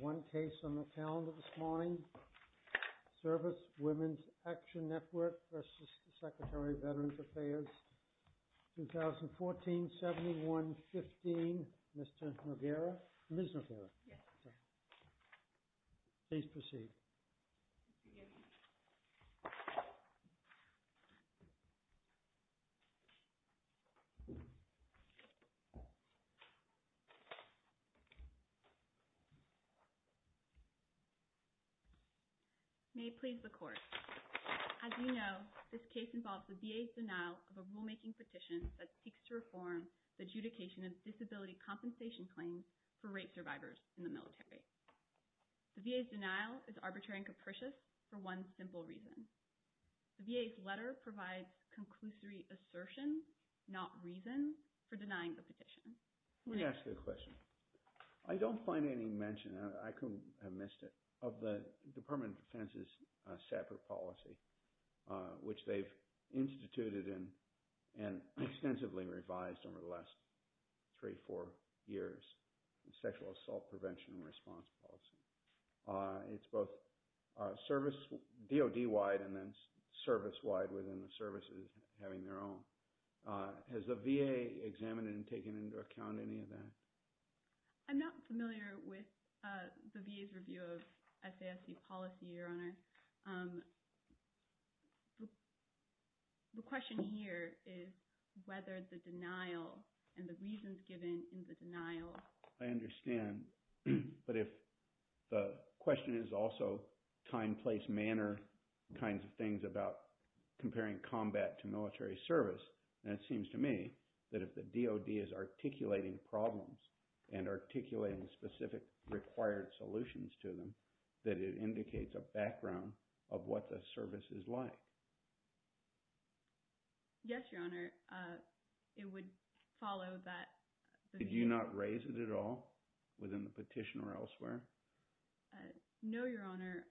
2014-71-15, Mr. Noguera. Ms. Noguera. Yes, sir. Please proceed. May it please the Court. As you know, this case involves the VA's denial of a rulemaking petition that seeks to reform the adjudication of disability compensation claims for rape survivors in the military. The VA's denial is arbitrary and capricious for one simple reason. The VA's letter provides conclusory assertion, not reason, for denying the petition. Let me ask you a question. I don't find any mention – I couldn't have missed it – of the Department of Defense's SAFRT policy, which they've instituted and extensively revised over the last three or four years, the Sexual Assault Prevention and Response policy. It's both DOD-wide and then service-wide within the services, having their own. Has the VA examined and taken into account any of that? I'm not familiar with the VA's review of SASC policy, Your Honor. The question here is whether the denial and the reasons given in the denial – I understand, but if – the question is also time, place, manner kinds of things about comparing combat to military service. And it seems to me that if the DOD is articulating problems and articulating specific required solutions to them, that it indicates a background of what the service is like. Yes, Your Honor. It would follow that – Did you not raise it at all within the petition or elsewhere? No, Your Honor.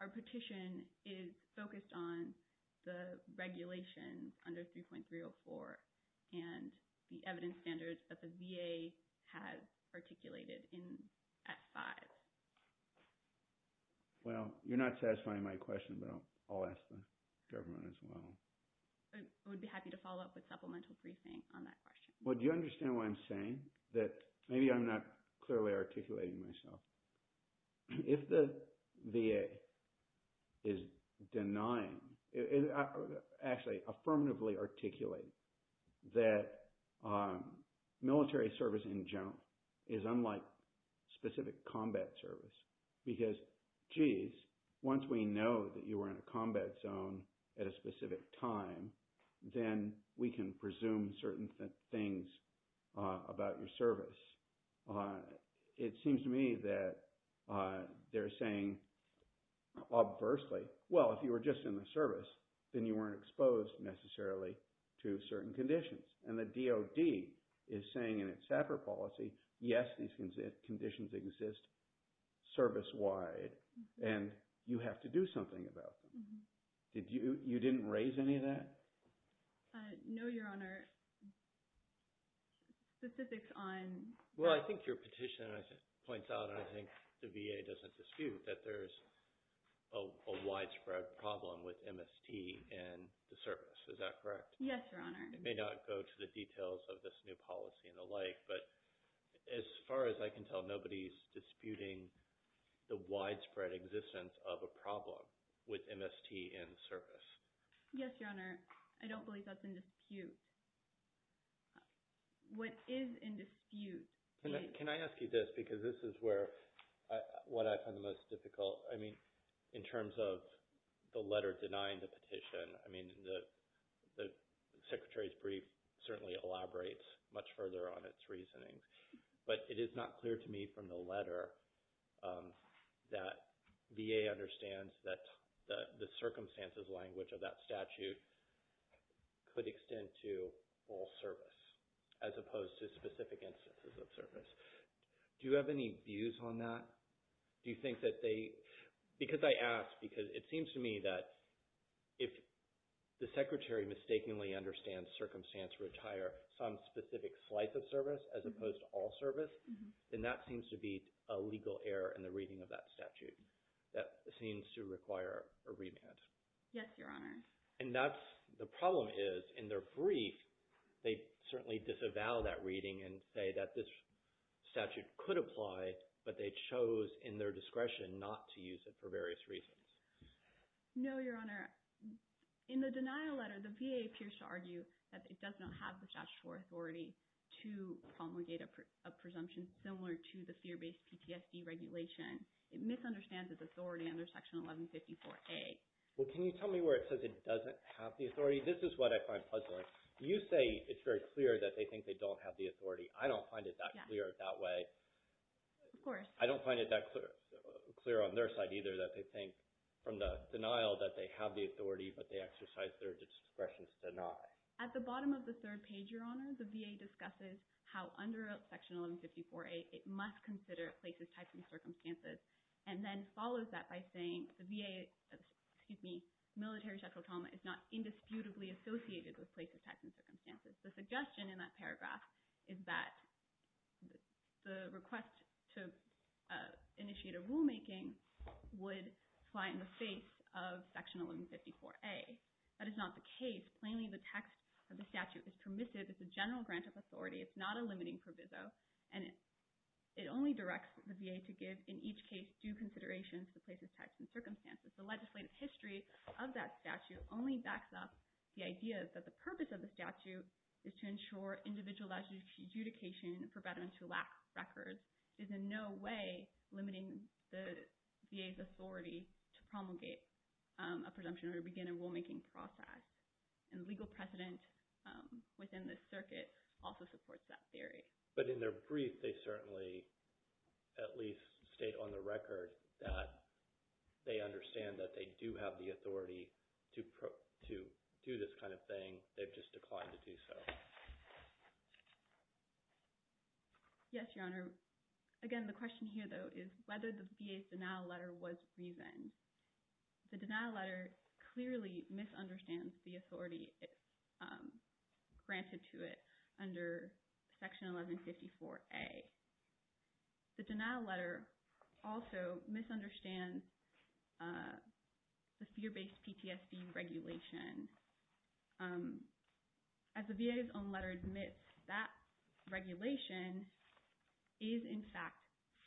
Our petition is focused on the regulation under 3.304 and the evidence standards that the VA has articulated in Act 5. Well, you're not satisfying my question, but I'll ask the government as well. I would be happy to follow up with supplemental briefing on that question. Well, do you understand what I'm saying? That maybe I'm not clearly articulating myself. If the VA is denying – actually, affirmatively articulates that military service in general is unlike specific combat service because, geez, once we know that you are in a combat zone at a specific time, then we can presume certain things about your service. It seems to me that they're saying, obversely, well, if you were just in the service, then you weren't exposed necessarily to certain conditions. And the DOD is saying in its SAPR policy, yes, these conditions exist service-wide, and you have to do something about them. You didn't raise any of that? No, Your Honor. Specifics on – Well, I think your petition points out, and I think the VA doesn't dispute, that there's a widespread problem with MST in the service. Is that correct? Yes, Your Honor. It may not go to the details of this new policy and the like, but as far as I can tell, nobody's disputing the widespread existence of a problem with MST in service. Yes, Your Honor. I don't believe that's in dispute. What is in dispute is – Can I ask you this? Because this is where – what I find the most difficult. I mean, in terms of the letter denying the petition, I mean, the Secretary's brief certainly elaborates much further on its reasoning. But it is not clear to me from the letter that VA understands that the circumstances language of that statute could extend to full service as opposed to specific instances of service. Do you have any views on that? Do you think that they – because I ask, because it seems to me that if the Secretary mistakenly understands circumstance retire some specific slice of service as opposed to all service, then that seems to be a legal error in the reading of that statute. That seems to require a remand. Yes, Your Honor. And that's – the problem is in their brief, they certainly disavow that reading and say that this statute could apply, but they chose in their discretion not to use it for various reasons. No, Your Honor. In the denial letter, the VA appears to argue that it does not have the statutory authority to promulgate a presumption similar to the fear-based PTSD regulation. It misunderstands its authority under Section 1154A. Well, can you tell me where it says it doesn't have the authority? This is what I find puzzling. You say it's very clear that they think they don't have the authority. I don't find it that clear that way. Of course. I don't find it that clear on their side either that they think from the denial that they have the authority, but they exercise their discretion to deny. At the bottom of the third page, Your Honor, the VA discusses how under Section 1154A it must consider places, types, and circumstances, and then follows that by saying the VA – excuse me – military sexual trauma is not indisputably associated with places, types, and circumstances. The suggestion in that paragraph is that the request to initiate a rulemaking would fly in the face of Section 1154A. That is not the case. Plainly, the text of the statute is permissive. It's a general grant of authority. It's not a limiting proviso. It only directs the VA to give, in each case, due consideration to places, types, and circumstances. The legislative history of that statute only backs up the idea that the purpose of the statute is to ensure individualized adjudication for veterans who lack records is in no way limiting the VA's authority to promulgate a presumption or to begin a rulemaking process. The legal precedent within this circuit also supports that theory. But in their brief, they certainly at least state on the record that they understand that they do have the authority to do this kind of thing. They've just declined to do so. Yes, Your Honor. Again, the question here though is whether the VA's denial letter was reasoned. The denial letter clearly misunderstands the authority granted to it under Section 1154A. The denial letter also misunderstands the fear-based PTSD regulation. As the VA's own letter admits, that regulation is, in fact,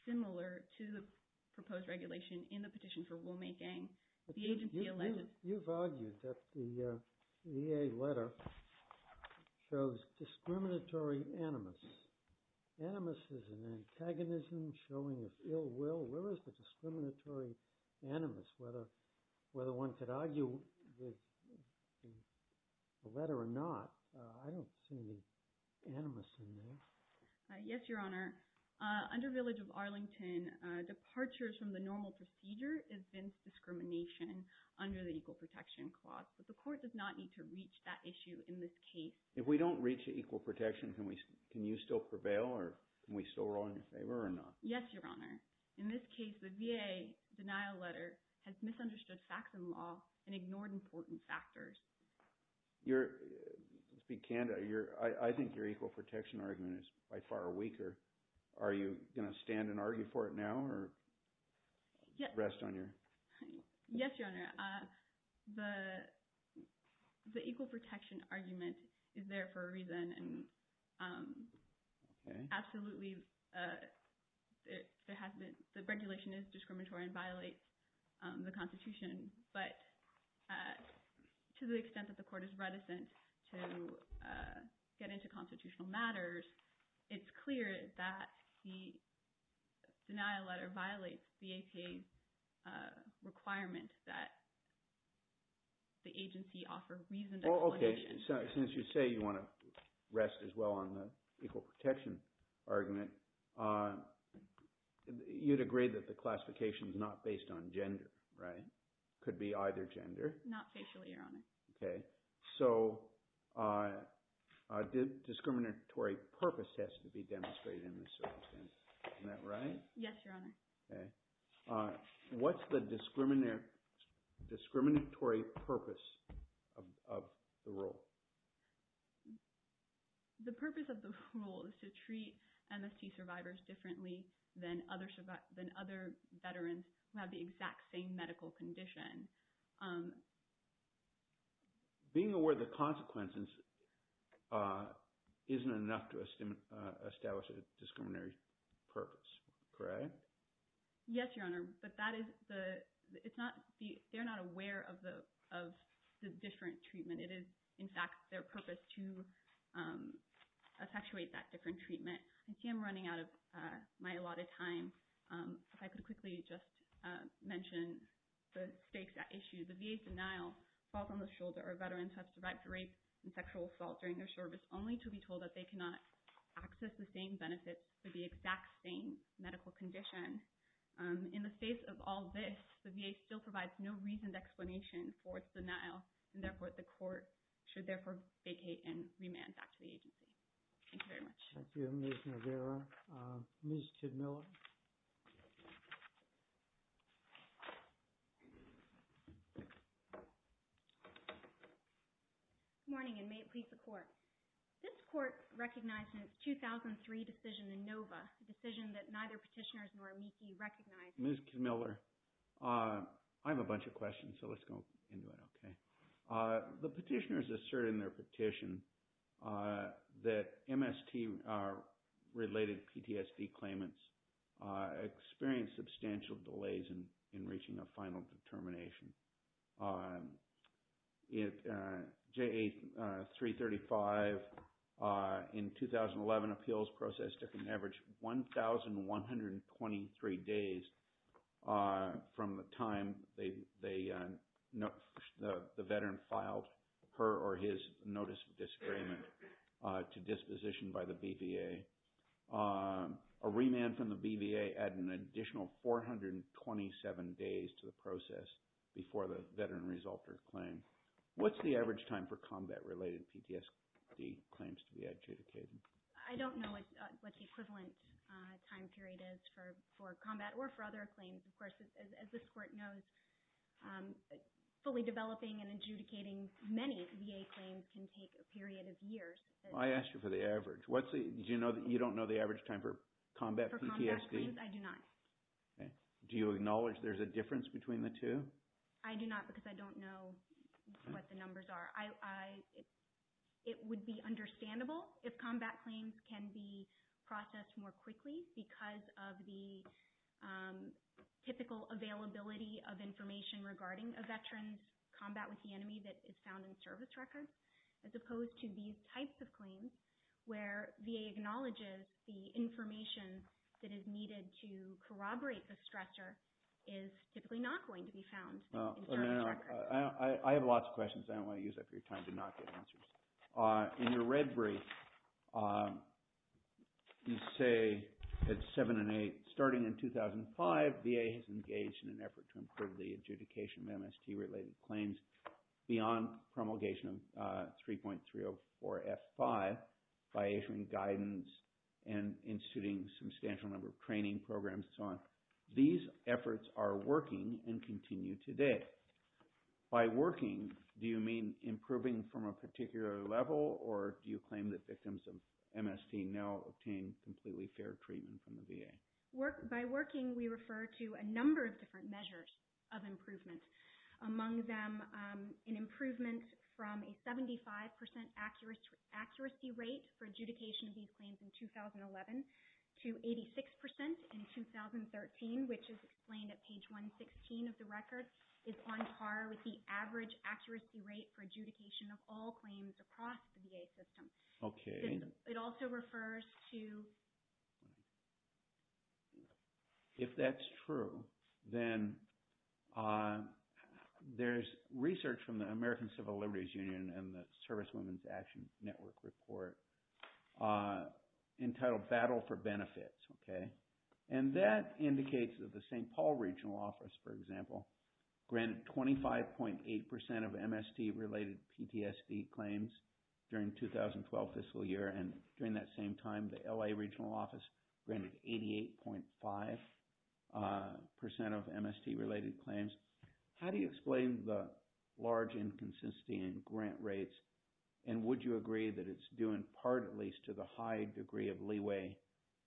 similar to the proposed regulation in the petition for rulemaking. You've argued that the VA letter shows discriminatory animus. Animus is an antagonism showing ill will. Where is the discriminatory animus, whether one could argue with the letter or not? I don't see any animus in there. Yes, Your Honor. Under Village of Arlington, departures from the normal procedure is Vince Discrimination under the Equal Protection Clause. But the court does not need to reach that issue in this case. If we don't reach equal protection, can you still prevail or can we still roll in your favor or not? Yes, Your Honor. In this case, the VA denial letter has misunderstood facts and law and ignored important factors. I think your equal protection argument is by far weaker. Are you going to stand and argue for it now or rest on your… Yes, Your Honor. The equal protection argument is there for a reason. Absolutely, the regulation is discriminatory and violates the Constitution. But to the extent that the court is reticent to get into constitutional matters, it's clear that the denial letter violates the APA's requirement that the agency offer reasoned explanation. Since you say you want to rest as well on the equal protection argument, you'd agree that the classification is not based on gender, right? It could be either gender. Not facially, Your Honor. Okay. So discriminatory purpose has to be demonstrated in this circumstance. Isn't that right? Yes, Your Honor. What's the discriminatory purpose of the rule? The purpose of the rule is to treat MST survivors differently than other veterans who have the exact same medical condition. Being aware of the consequences isn't enough to establish a discriminatory purpose, correct? Yes, Your Honor, but that is the – it's not – they're not aware of the different treatment. It is, in fact, their purpose to effectuate that different treatment. I see I'm running out of my allotted time. If I could quickly just mention the stakes at issue. The VA's denial falls on the shoulder of veterans who have survived rape and sexual assault during their service only to be told that they cannot access the same benefits for the exact same medical condition. In the face of all this, the VA still provides no reasoned explanation for its denial, and therefore the court should therefore vacate and remand back to the agency. Thank you very much. Thank you, Ms. Navarro. Ms. Kidmiller. Good morning, and may it please the court. This court recognizes 2003 decision in Nova, a decision that neither petitioners nor amici recognize. Ms. Kidmiller, I have a bunch of questions, so let's go anyway. The petitioners assert in their petition that MST-related PTSD claimants experienced substantial delays in reaching a final determination. JA-335 in 2011 appeals process took an average 1,123 days from the time the veteran filed her or his notice of disagreement to disposition by the BVA. A remand from the BVA added an additional 427 days to the process before the veteran resolved her claim. What's the average time for combat-related PTSD claims to be adjudicated? I don't know what the equivalent time period is for combat or for other claims. Of course, as this court knows, fully developing and adjudicating many VA claims can take a period of years. I asked you for the average. You don't know the average time for combat PTSD? For combat claims, I do not. Do you acknowledge there's a difference between the two? I do not because I don't know what the numbers are. It would be understandable if combat claims can be processed more quickly because of the typical availability of information regarding a veteran's combat with the enemy that is found in service records, as opposed to these types of claims where VA acknowledges the information that is needed to corroborate the stressor is typically not going to be found in service records. I have lots of questions. I don't want to use up your time to not get answers. In your red brief, you say at 7 and 8, starting in 2005, VA has engaged in an effort to improve the adjudication of MST-related claims beyond promulgation of 3.304F5 by issuing guidance and instituting a substantial number of training programs and so on. These efforts are working and continue today. By working, do you mean improving from a particular level or do you claim that victims of MST now obtain completely fair treatment from the VA? By working, we refer to a number of different measures of improvement, among them an improvement from a 75% accuracy rate for adjudication of these claims in 2011 to 86% in 2013, which is explained at page 116 of the record, is on par with the average accuracy rate for adjudication of all claims across the VA system. Okay. It also refers to… If that's true, then there's research from the American Civil Liberties Union and the Service Women's Action Network report entitled Battle for Benefits. Okay. And that indicates that the St. Paul Regional Office, for example, granted 25.8% of MST-related PTSD claims during 2012 fiscal year and during that same time, the LA Regional Office granted 88.5% of MST-related claims. How do you explain the large inconsistency in grant rates and would you agree that it's due in part, at least, to the high degree of leeway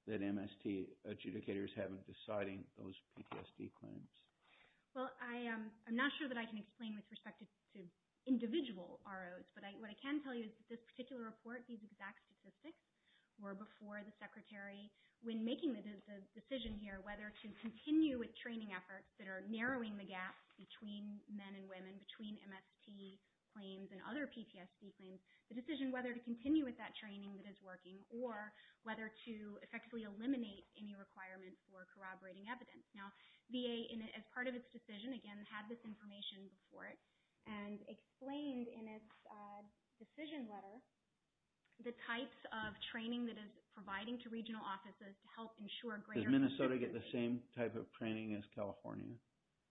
that MST adjudicators have in deciding those PTSD claims? Well, I'm not sure that I can explain with respect to individual ROs, but what I can tell you is that this particular report, these exact statistics were before the Secretary, when making the decision here whether to continue with training efforts that are narrowing the gap between men and women, between MST claims and other PTSD claims, the decision whether to continue with that training that is working, or whether to effectively eliminate any requirements for corroborating evidence. Now, VA, as part of its decision, again, had this information before it and explained in its decision letter the types of training that it's providing to regional offices to help ensure greater… Does Minnesota get the same type of training as California?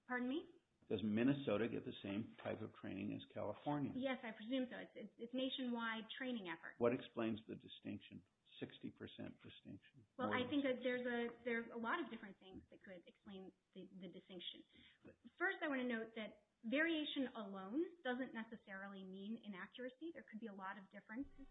Pardon me? Does Minnesota get the same type of training as California? Yes, I presume so. It's nationwide training efforts. What explains the distinction, 60% distinction? Well, I think that there's a lot of different things that could explain the distinction. First, I want to note that variation alone doesn't necessarily mean inaccuracy. There could be a lot of differences,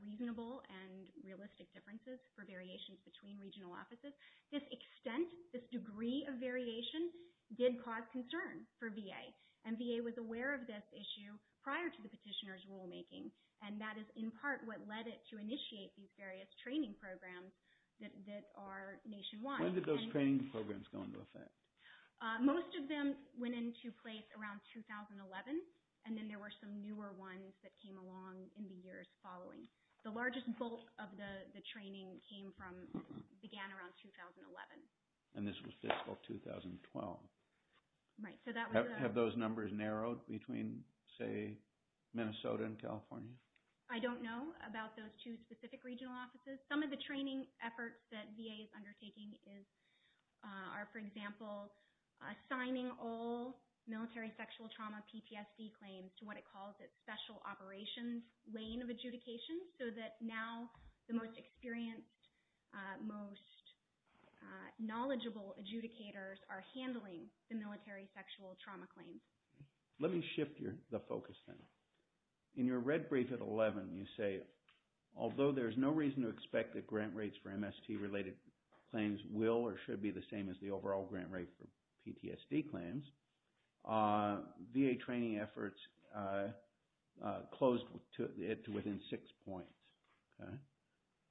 reasonable and realistic differences for variations between regional offices. This extent, this degree of variation did cause concern for VA, and VA was aware of this issue prior to the petitioner's rulemaking, and that is in part what led it to initiate these various training programs that are nationwide. When did those training programs go into effect? Most of them went into place around 2011, and then there were some newer ones that came along in the years following. The largest bulk of the training came from…began around 2011. And this was fiscal 2012. Right, so that was… Have those numbers narrowed between, say, Minnesota and California? I don't know about those two specific regional offices. Some of the training efforts that VA is undertaking are, for example, assigning all military sexual trauma PTSD claims to what it calls its special operations lane of adjudication so that now the most experienced, most knowledgeable adjudicators are handling the military sexual trauma claims. Let me shift the focus then. In your red brief at 11, you say, although there is no reason to expect that grant rates for MST-related claims will or should be the same as the overall grant rate for PTSD claims, VA training efforts closed it to within six points.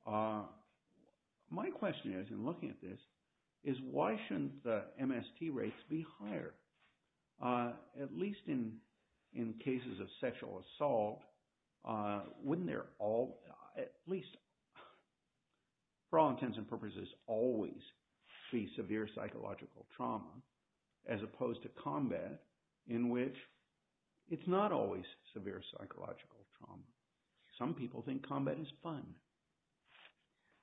My question is, in looking at this, is why shouldn't the MST rates be higher? At least in cases of sexual assault, wouldn't they all, at least for all intents and purposes, always be severe psychological trauma as opposed to combat, in which it's not always severe psychological trauma? Some people think combat is fun.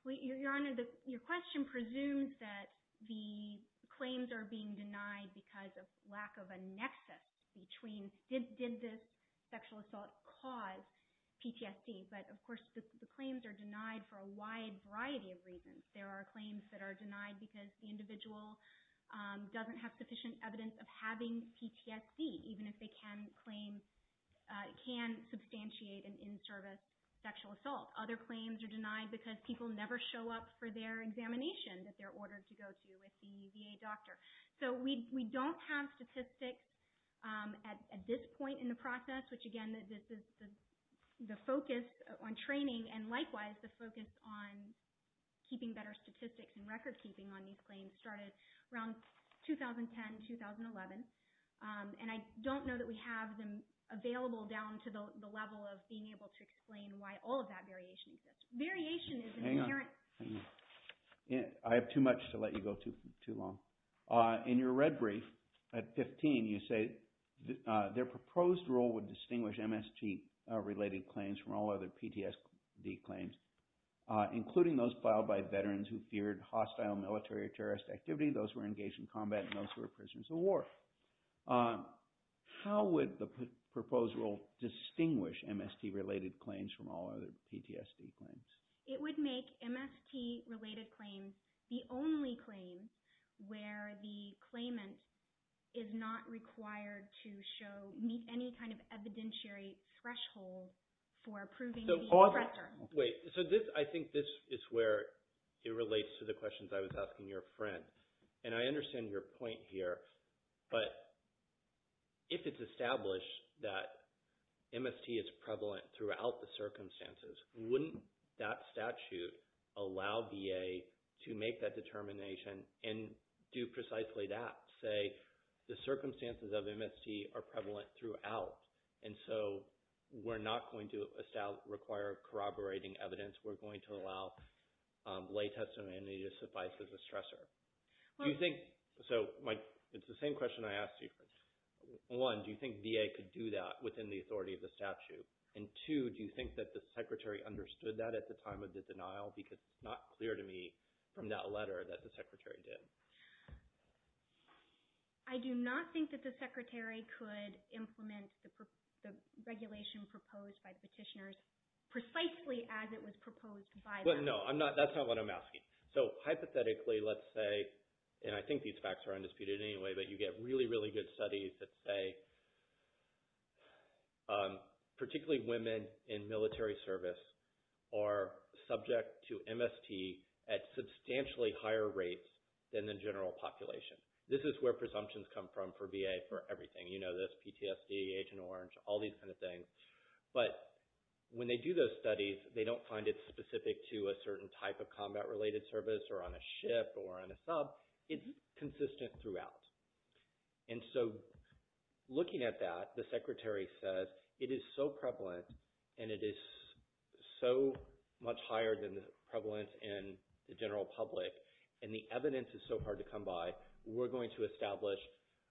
Your Honor, your question presumes that the claims are being denied because of lack of a nexus between, did this sexual assault cause PTSD? But, of course, the claims are denied for a wide variety of reasons. There are claims that are denied because the individual doesn't have sufficient evidence of having PTSD, even if they can substantiate an in-service sexual assault. Other claims are denied because people never show up for their examination that they're ordered to go to with the VA doctor. So we don't have statistics at this point in the process, which, again, the focus on training and, likewise, the focus on keeping better statistics and record-keeping on these claims started around 2010, 2011. And I don't know that we have them available down to the level of being able to explain why all of that variation exists. Variation is an inherent thing. I have too much to let you go too long. In your red brief at 15, you say, their proposed rule would distinguish MST-related claims from all other PTSD claims, including those filed by veterans who feared hostile military or terrorist activity, those who were engaged in combat, and those who were prisoners of war. How would the proposed rule distinguish MST-related claims from all other PTSD claims? It would make MST-related claims the only claims where the claimant is not required to show – meet any kind of evidentiary threshold for approving the offender. Wait. So I think this is where it relates to the questions I was asking your friend. And I understand your point here, but if it's established that MST is prevalent throughout the circumstances, wouldn't that statute allow VA to make that determination and do precisely that, say the circumstances of MST are prevalent throughout, and so we're not going to require corroborating evidence. We're going to allow lay testimony to suffice as a stressor. Do you think – so it's the same question I asked you. One, do you think VA could do that within the authority of the statute? And two, do you think that the Secretary understood that at the time of the denial? Because it's not clear to me from that letter that the Secretary did. I do not think that the Secretary could implement the regulation proposed by the petitioners precisely as it was proposed by them. No, that's not what I'm asking. So hypothetically, let's say – and I think these facts are undisputed anyway, but you get really, really good studies that say particularly women in military service are subject to MST at substantially higher rates than the general population. This is where presumptions come from for VA for everything. You know this, PTSD, Agent Orange, all these kind of things. But when they do those studies, they don't find it specific to a certain type of combat-related service or on a ship or on a sub. It's consistent throughout. And so looking at that, the Secretary says it is so prevalent and it is so much higher than the prevalence in the general public and the evidence is so hard to come by, we're going to establish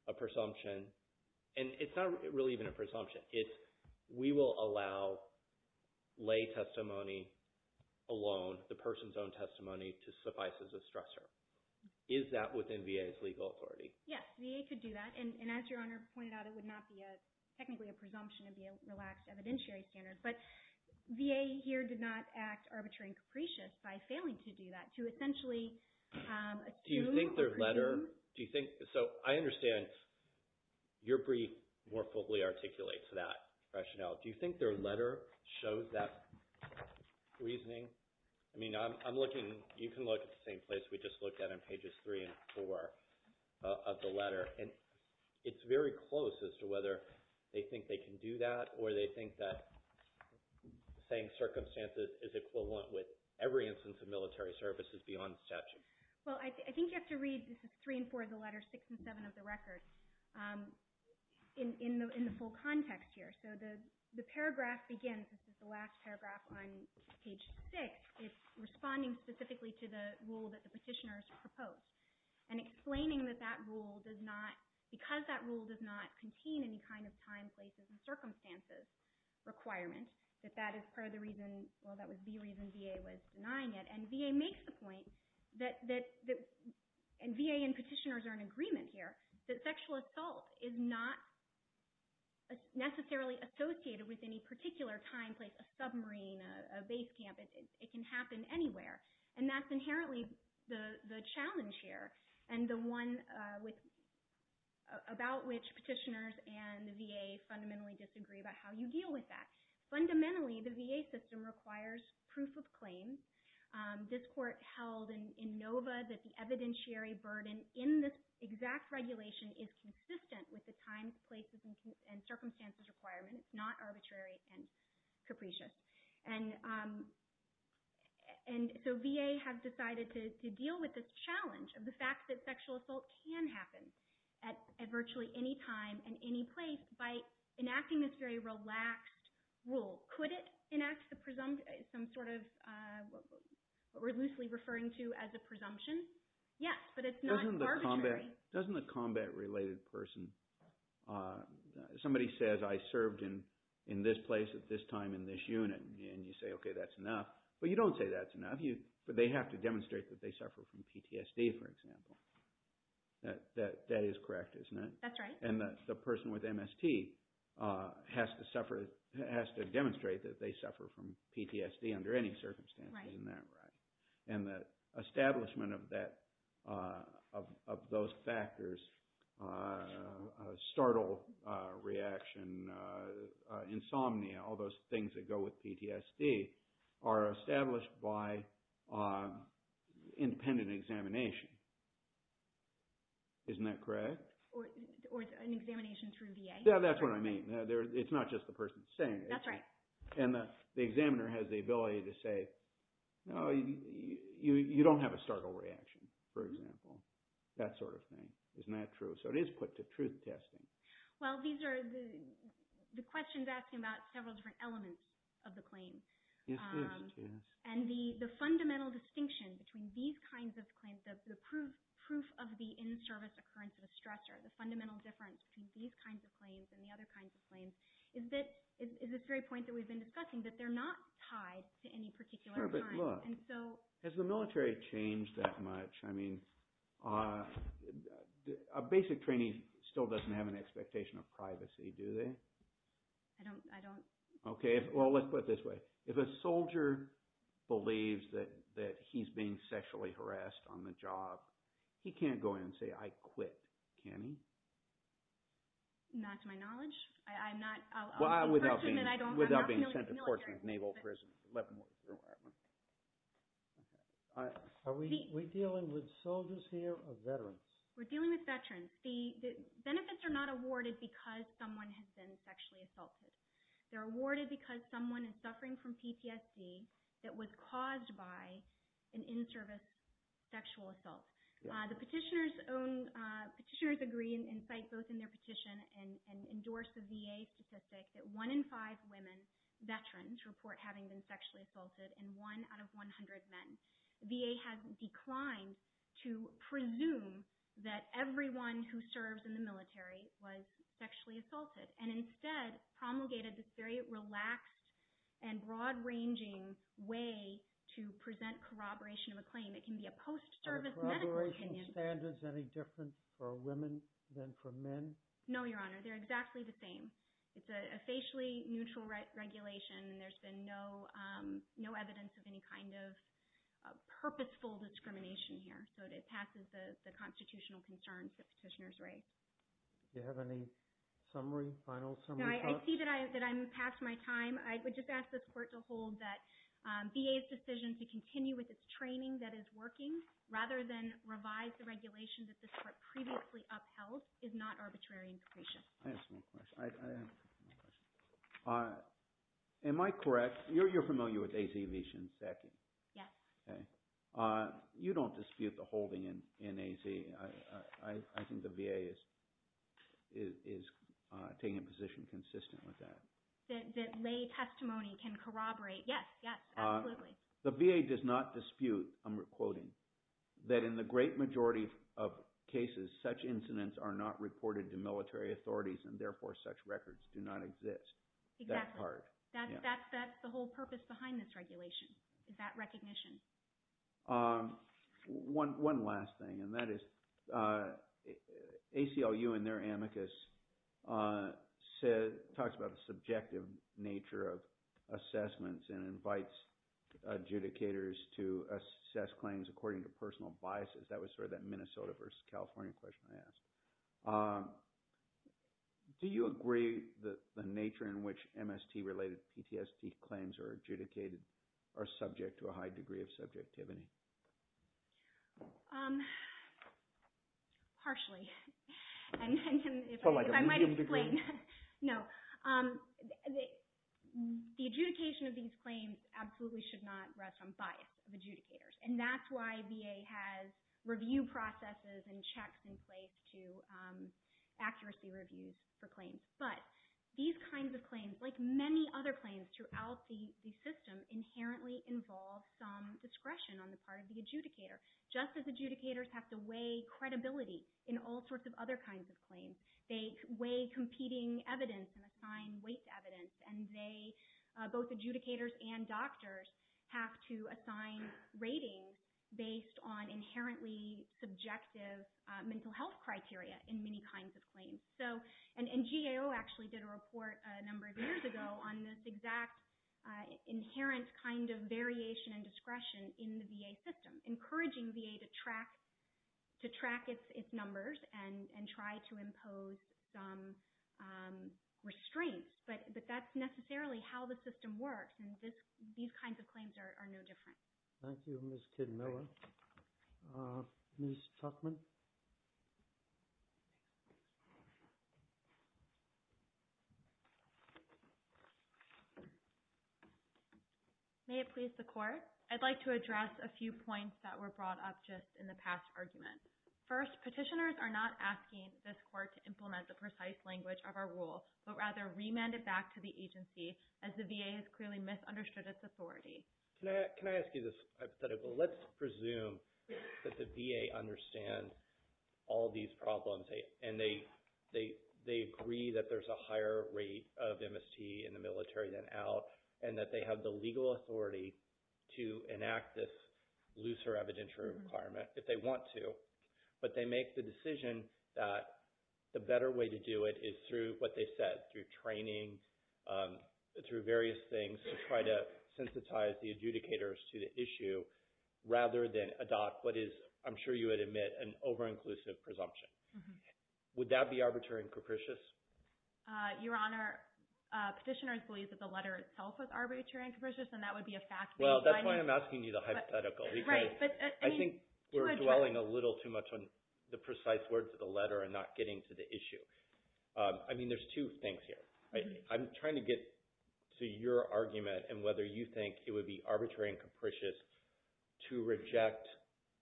a presumption. And it's not really even a presumption. We will allow lay testimony alone, the person's own testimony to suffice as a stressor. Is that within VA's legal authority? Yes, VA could do that. And as Your Honor pointed out, it would not be technically a presumption. It would be a relaxed evidentiary standard. But VA here did not act arbitrary and capricious by failing to do that, to essentially assume or presume. Do you think their letter – do you think – So I understand your brief more fully articulates that rationale. Do you think their letter shows that reasoning? I mean, I'm looking – you can look at the same place we just looked at on pages 3 and 4 of the letter. And it's very close as to whether they think they can do that or they think that saying circumstances is equivalent with every instance of military services beyond statute. Well, I think you have to read – this is 3 and 4 of the letter, 6 and 7 of the record in the full context here. So the paragraph begins – this is the last paragraph on page 6. It's responding specifically to the rule that the petitioners proposed and explaining that that rule does not – because that rule does not contain any kind of time, places, and circumstances requirement, that that is part of the reason – well, that was the reason VA was denying it. And VA makes the point that – and VA and petitioners are in agreement here – that sexual assault is not necessarily associated with any particular time, place, a submarine, a base camp. It can happen anywhere. And that's inherently the challenge here and the one about which petitioners and the VA fundamentally disagree about how you deal with that. Fundamentally, the VA system requires proof of claim. This court held in NOVA that the evidentiary burden in this exact regulation is consistent with the time, places, and circumstances requirements, not arbitrary and capricious. And so VA has decided to deal with this challenge of the fact that sexual assault can happen at virtually any time and any place by enacting this very relaxed rule. Could it enact some sort of – what we're loosely referring to as a presumption? Yes, but it's not arbitrary. Doesn't the combat-related person – somebody says, I served in this place at this time in this unit, and you say, okay, that's enough. Well, you don't say that's enough, but they have to demonstrate that they suffer from PTSD, for example. That is correct, isn't it? That's right. And the person with MST has to suffer – has to demonstrate that they suffer from PTSD under any circumstances. Right. Isn't that right? And the establishment of that – of those factors, startle reaction, insomnia, all those things that go with PTSD are established by independent examination. Isn't that correct? Or an examination through VA. Yeah, that's what I mean. It's not just the person saying it. That's right. And the examiner has the ability to say, no, you don't have a startle reaction, for example, that sort of thing. Isn't that true? So it is put to truth testing. Well, these are – the question is asking about several different elements of the claims. Yes, it is. And the fundamental distinction between these kinds of claims, the proof of the in-service occurrence of a stressor, the fundamental difference between these kinds of claims and the other kinds of claims, is this very point that we've been discussing, that they're not tied to any particular time. Sure, but look, has the military changed that much? I mean, a basic trainee still doesn't have an expectation of privacy, do they? I don't. Okay, well, let's put it this way. If a soldier believes that he's being sexually harassed on the job, he can't go in and say, I quit, can he? Not to my knowledge. I'm not – I'll ask the question and I don't – I'm not familiar with the military. Without being sent to portions of naval prison. Are we dealing with soldiers here or veterans? We're dealing with veterans. The benefits are not awarded because someone has been sexually assaulted. They're awarded because someone is suffering from PTSD that was caused by an in-service sexual assault. The petitioners own – petitioners agree and cite both in their petition and endorse a VA statistic that one in five women veterans report having been sexually assaulted, and one out of 100 men. VA has declined to presume that everyone who serves in the military was sexually assaulted and instead promulgated this very relaxed and broad-ranging way to present corroboration of a claim. It can be a post-service medical opinion. Are the corroboration standards any different for women than for men? No, Your Honor. They're exactly the same. It's a facially neutral regulation and there's been no evidence of any kind of purposeful discrimination here. So it passes the constitutional concerns that petitioners raise. Do you have any summary, final summary thoughts? No, I see that I'm past my time. I would just ask this Court to hold that VA's decision to continue with its training that is working rather than revise the regulation that this Court previously upheld is not arbitrary and secretion. I have a small question. I have a small question. Am I correct? You're familiar with AZ v. Shinseki? Yes. Okay. You don't dispute the holding in AZ. I think the VA is taking a position consistent with that. That lay testimony can corroborate. Yes, yes, absolutely. The VA does not dispute, I'm quoting, that in the great majority of cases, such incidents are not reported to military authorities and therefore such records do not exist. Exactly. That part. That's the whole purpose behind this regulation is that recognition. One last thing, and that is ACLU in their amicus talks about the subjective nature of assessments and invites adjudicators to assess claims according to personal biases. That was sort of that Minnesota versus California question I asked. Do you agree that the nature in which MST-related PTSD claims are adjudicated are subject to a high degree of subjectivity? Partially. For like a medium degree? No. The adjudication of these claims absolutely should not rest on bias of adjudicators, and that's why VA has review processes and checks in place to accuracy reviews for claims. But these kinds of claims, like many other claims throughout the system, inherently involve some discretion on the part of the adjudicator, just as adjudicators have to weigh credibility in all sorts of other kinds of claims. They weigh competing evidence and assign weight to evidence, and they, both adjudicators and doctors, have to assign ratings based on inherently subjective mental health criteria in many kinds of claims. And GAO actually did a report a number of years ago on this exact inherent kind of variation and discretion in the VA system, encouraging VA to track its numbers and try to impose some restraints. But that's necessarily how the system works, and these kinds of claims are no different. Thank you, Ms. Kidmiller. Ms. Tuchman? May it please the Court? I'd like to address a few points that were brought up just in the past argument. First, petitioners are not asking this Court to implement the precise language of our rule, but rather remand it back to the agency, as the VA has clearly misunderstood its authority. Can I ask you this hypothetical? Let's presume that the VA understands all these problems, and they agree that there's a higher rate of MST in the military than out, and that they have the legal authority to enact this looser evidentiary requirement if they want to. But they make the decision that the better way to do it is through what they said, through training, through various things to try to sensitize the adjudicators to the issue, rather than adopt what is, I'm sure you would admit, an over-inclusive presumption. Would that be arbitrary and capricious? Your Honor, petitioners believe that the letter itself was arbitrary and capricious, and that would be a fact they decided. Well, that's why I'm asking you the hypothetical, because I think we're dwelling a little too much on the precise words of the letter and not getting to the issue. I mean, there's two things here. I'm trying to get to your argument and whether you think it would be arbitrary and capricious to reject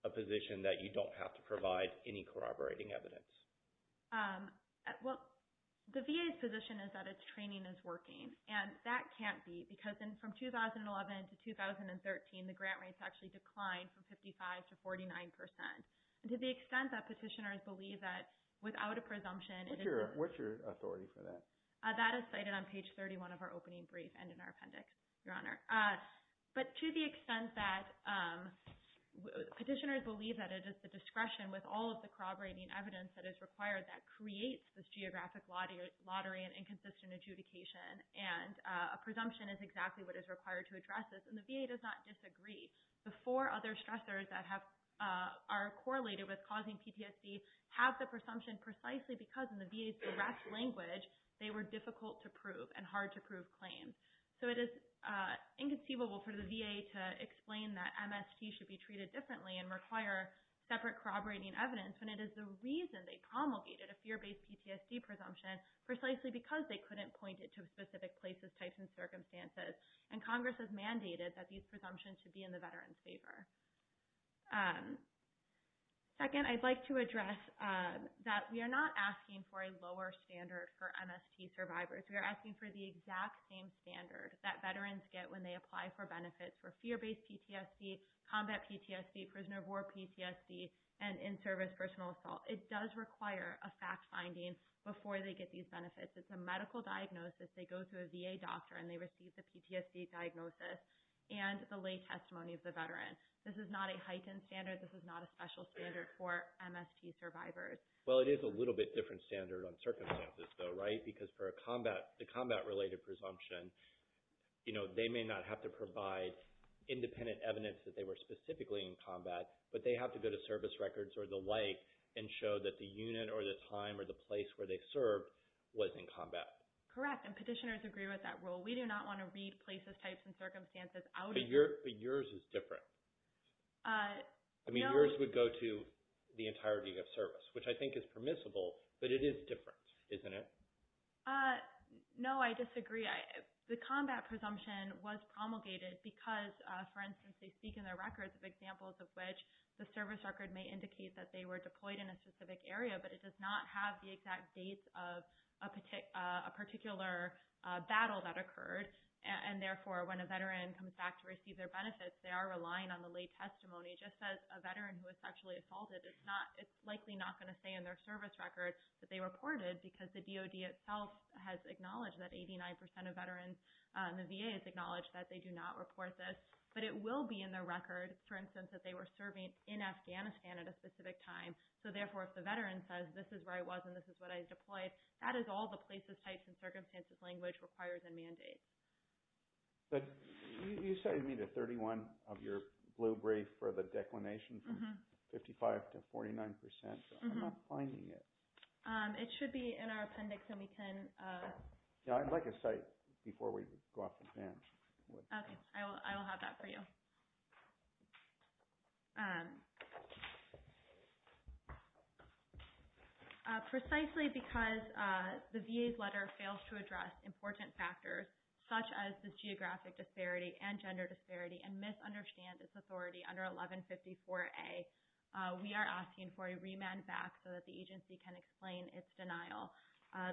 a position that you don't have to provide any corroborating evidence. Well, the VA's position is that its training is working, and that can't be because from 2011 to 2013, the grant rates actually declined from 55% to 49%. To the extent that petitioners believe that, without a presumption— What's your authority for that? That is cited on page 31 of our opening brief and in our appendix, Your Honor. But to the extent that petitioners believe that it is the discretion, with all of the corroborating evidence that is required, that creates this geographic lottery and inconsistent adjudication, and a presumption is exactly what is required to address this, and the VA does not disagree. The four other stressors that are correlated with causing PTSD have the presumption precisely because in the VA's direct language, they were difficult to prove and hard to prove claims. So it is inconceivable for the VA to explain that MST should be treated differently and require separate corroborating evidence when it is the reason they promulgated a fear-based PTSD presumption, precisely because they couldn't point it to specific places, types, and circumstances. And Congress has mandated that these presumptions should be in the veterans' favor. Second, I'd like to address that we are not asking for a lower standard for MST survivors. We are asking for the exact same standard that veterans get when they apply for benefits for fear-based PTSD, combat PTSD, prisoner of war PTSD, and in-service personal assault. It does require a fact-finding before they get these benefits. It's a medical diagnosis. They go to a VA doctor and they receive the PTSD diagnosis and the lay testimony of the veteran. This is not a heightened standard. This is not a special standard for MST survivors. Well, it is a little bit different standard on circumstances, though, right? Because for the combat-related presumption, they may not have to provide independent evidence that they were specifically in combat, but they have to go to service records or the like Correct, and petitioners agree with that rule. We do not want to read places, types, and circumstances out of the— But yours is different. I mean, yours would go to the entirety of service, which I think is permissible, but it is different, isn't it? No, I disagree. The combat presumption was promulgated because, for instance, they speak in their records of examples of which the service record may indicate that they were deployed in a specific area, but it does not have the exact dates of a particular battle that occurred. And therefore, when a veteran comes back to receive their benefits, they are relying on the lay testimony. Just as a veteran who was sexually assaulted, it's likely not going to say in their service record that they reported because the DOD itself has acknowledged that 89% of veterans, and the VA has acknowledged that they do not report this. But it will be in their record, for instance, that they were serving in Afghanistan at a specific time. So therefore, if the veteran says, this is where I was and this is what I deployed, that is all the places, types, and circumstances language requires and mandates. You cited me to 31 of your blue brief for the declination from 55% to 49%. I'm not finding it. It should be in our appendix, and we can— I'd like a cite before we go off the bench. Okay. I will have that for you. Precisely because the VA's letter fails to address important factors such as this geographic disparity and gender disparity and misunderstand this authority under 1154A, we are asking for a remand back so that the agency can explain its denial.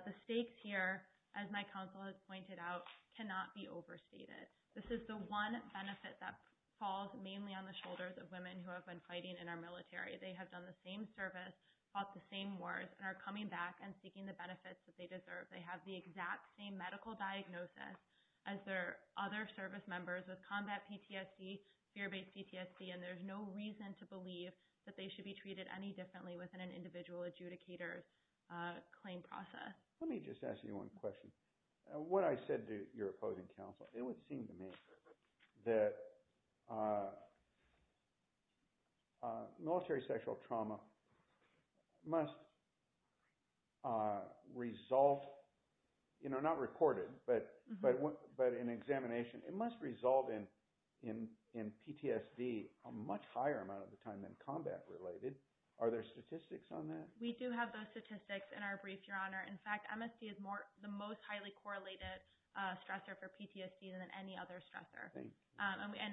The stakes here, as my counsel has pointed out, cannot be overstated. This is the one benefit that falls mainly on the shoulders of women who have been fighting in our military. They have done the same service, fought the same wars, and are coming back and seeking the benefits that they deserve. They have the exact same medical diagnosis as their other service members with combat PTSD, fear-based PTSD, and there's no reason to believe that they should be treated any differently within an individual adjudicator's claim process. Let me just ask you one question. What I said to your opposing counsel, it would seem to me that military sexual trauma must result, not recorded, but in examination, it must result in PTSD a much higher amount of the time than combat related. Are there statistics on that? In fact, MST is the most highly correlated stressor for PTSD than any other stressor.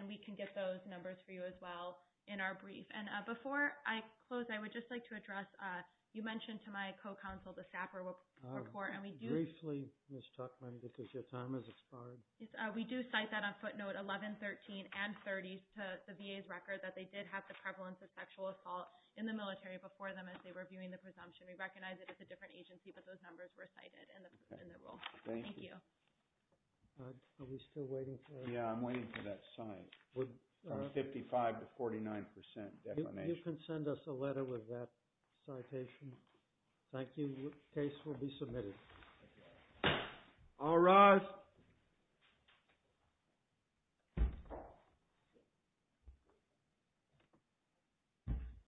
We can get those numbers for you as well in our brief. Before I close, I would just like to address, you mentioned to my co-counsel the Sapper Report. Briefly, Ms. Tuchman, because your time has expired. We do cite that on footnote 1113 and 30 to the VA's record that they did have the prevalence of sexual assault in the military before them as they were viewing the presumption. We recognize that it's a different agency, but those numbers were cited in the rule. Thank you. Are we still waiting for it? Yeah, I'm waiting for that sign. From 55% to 49% definition. You can send us a letter with that citation. Thank you. The case will be submitted. All rise.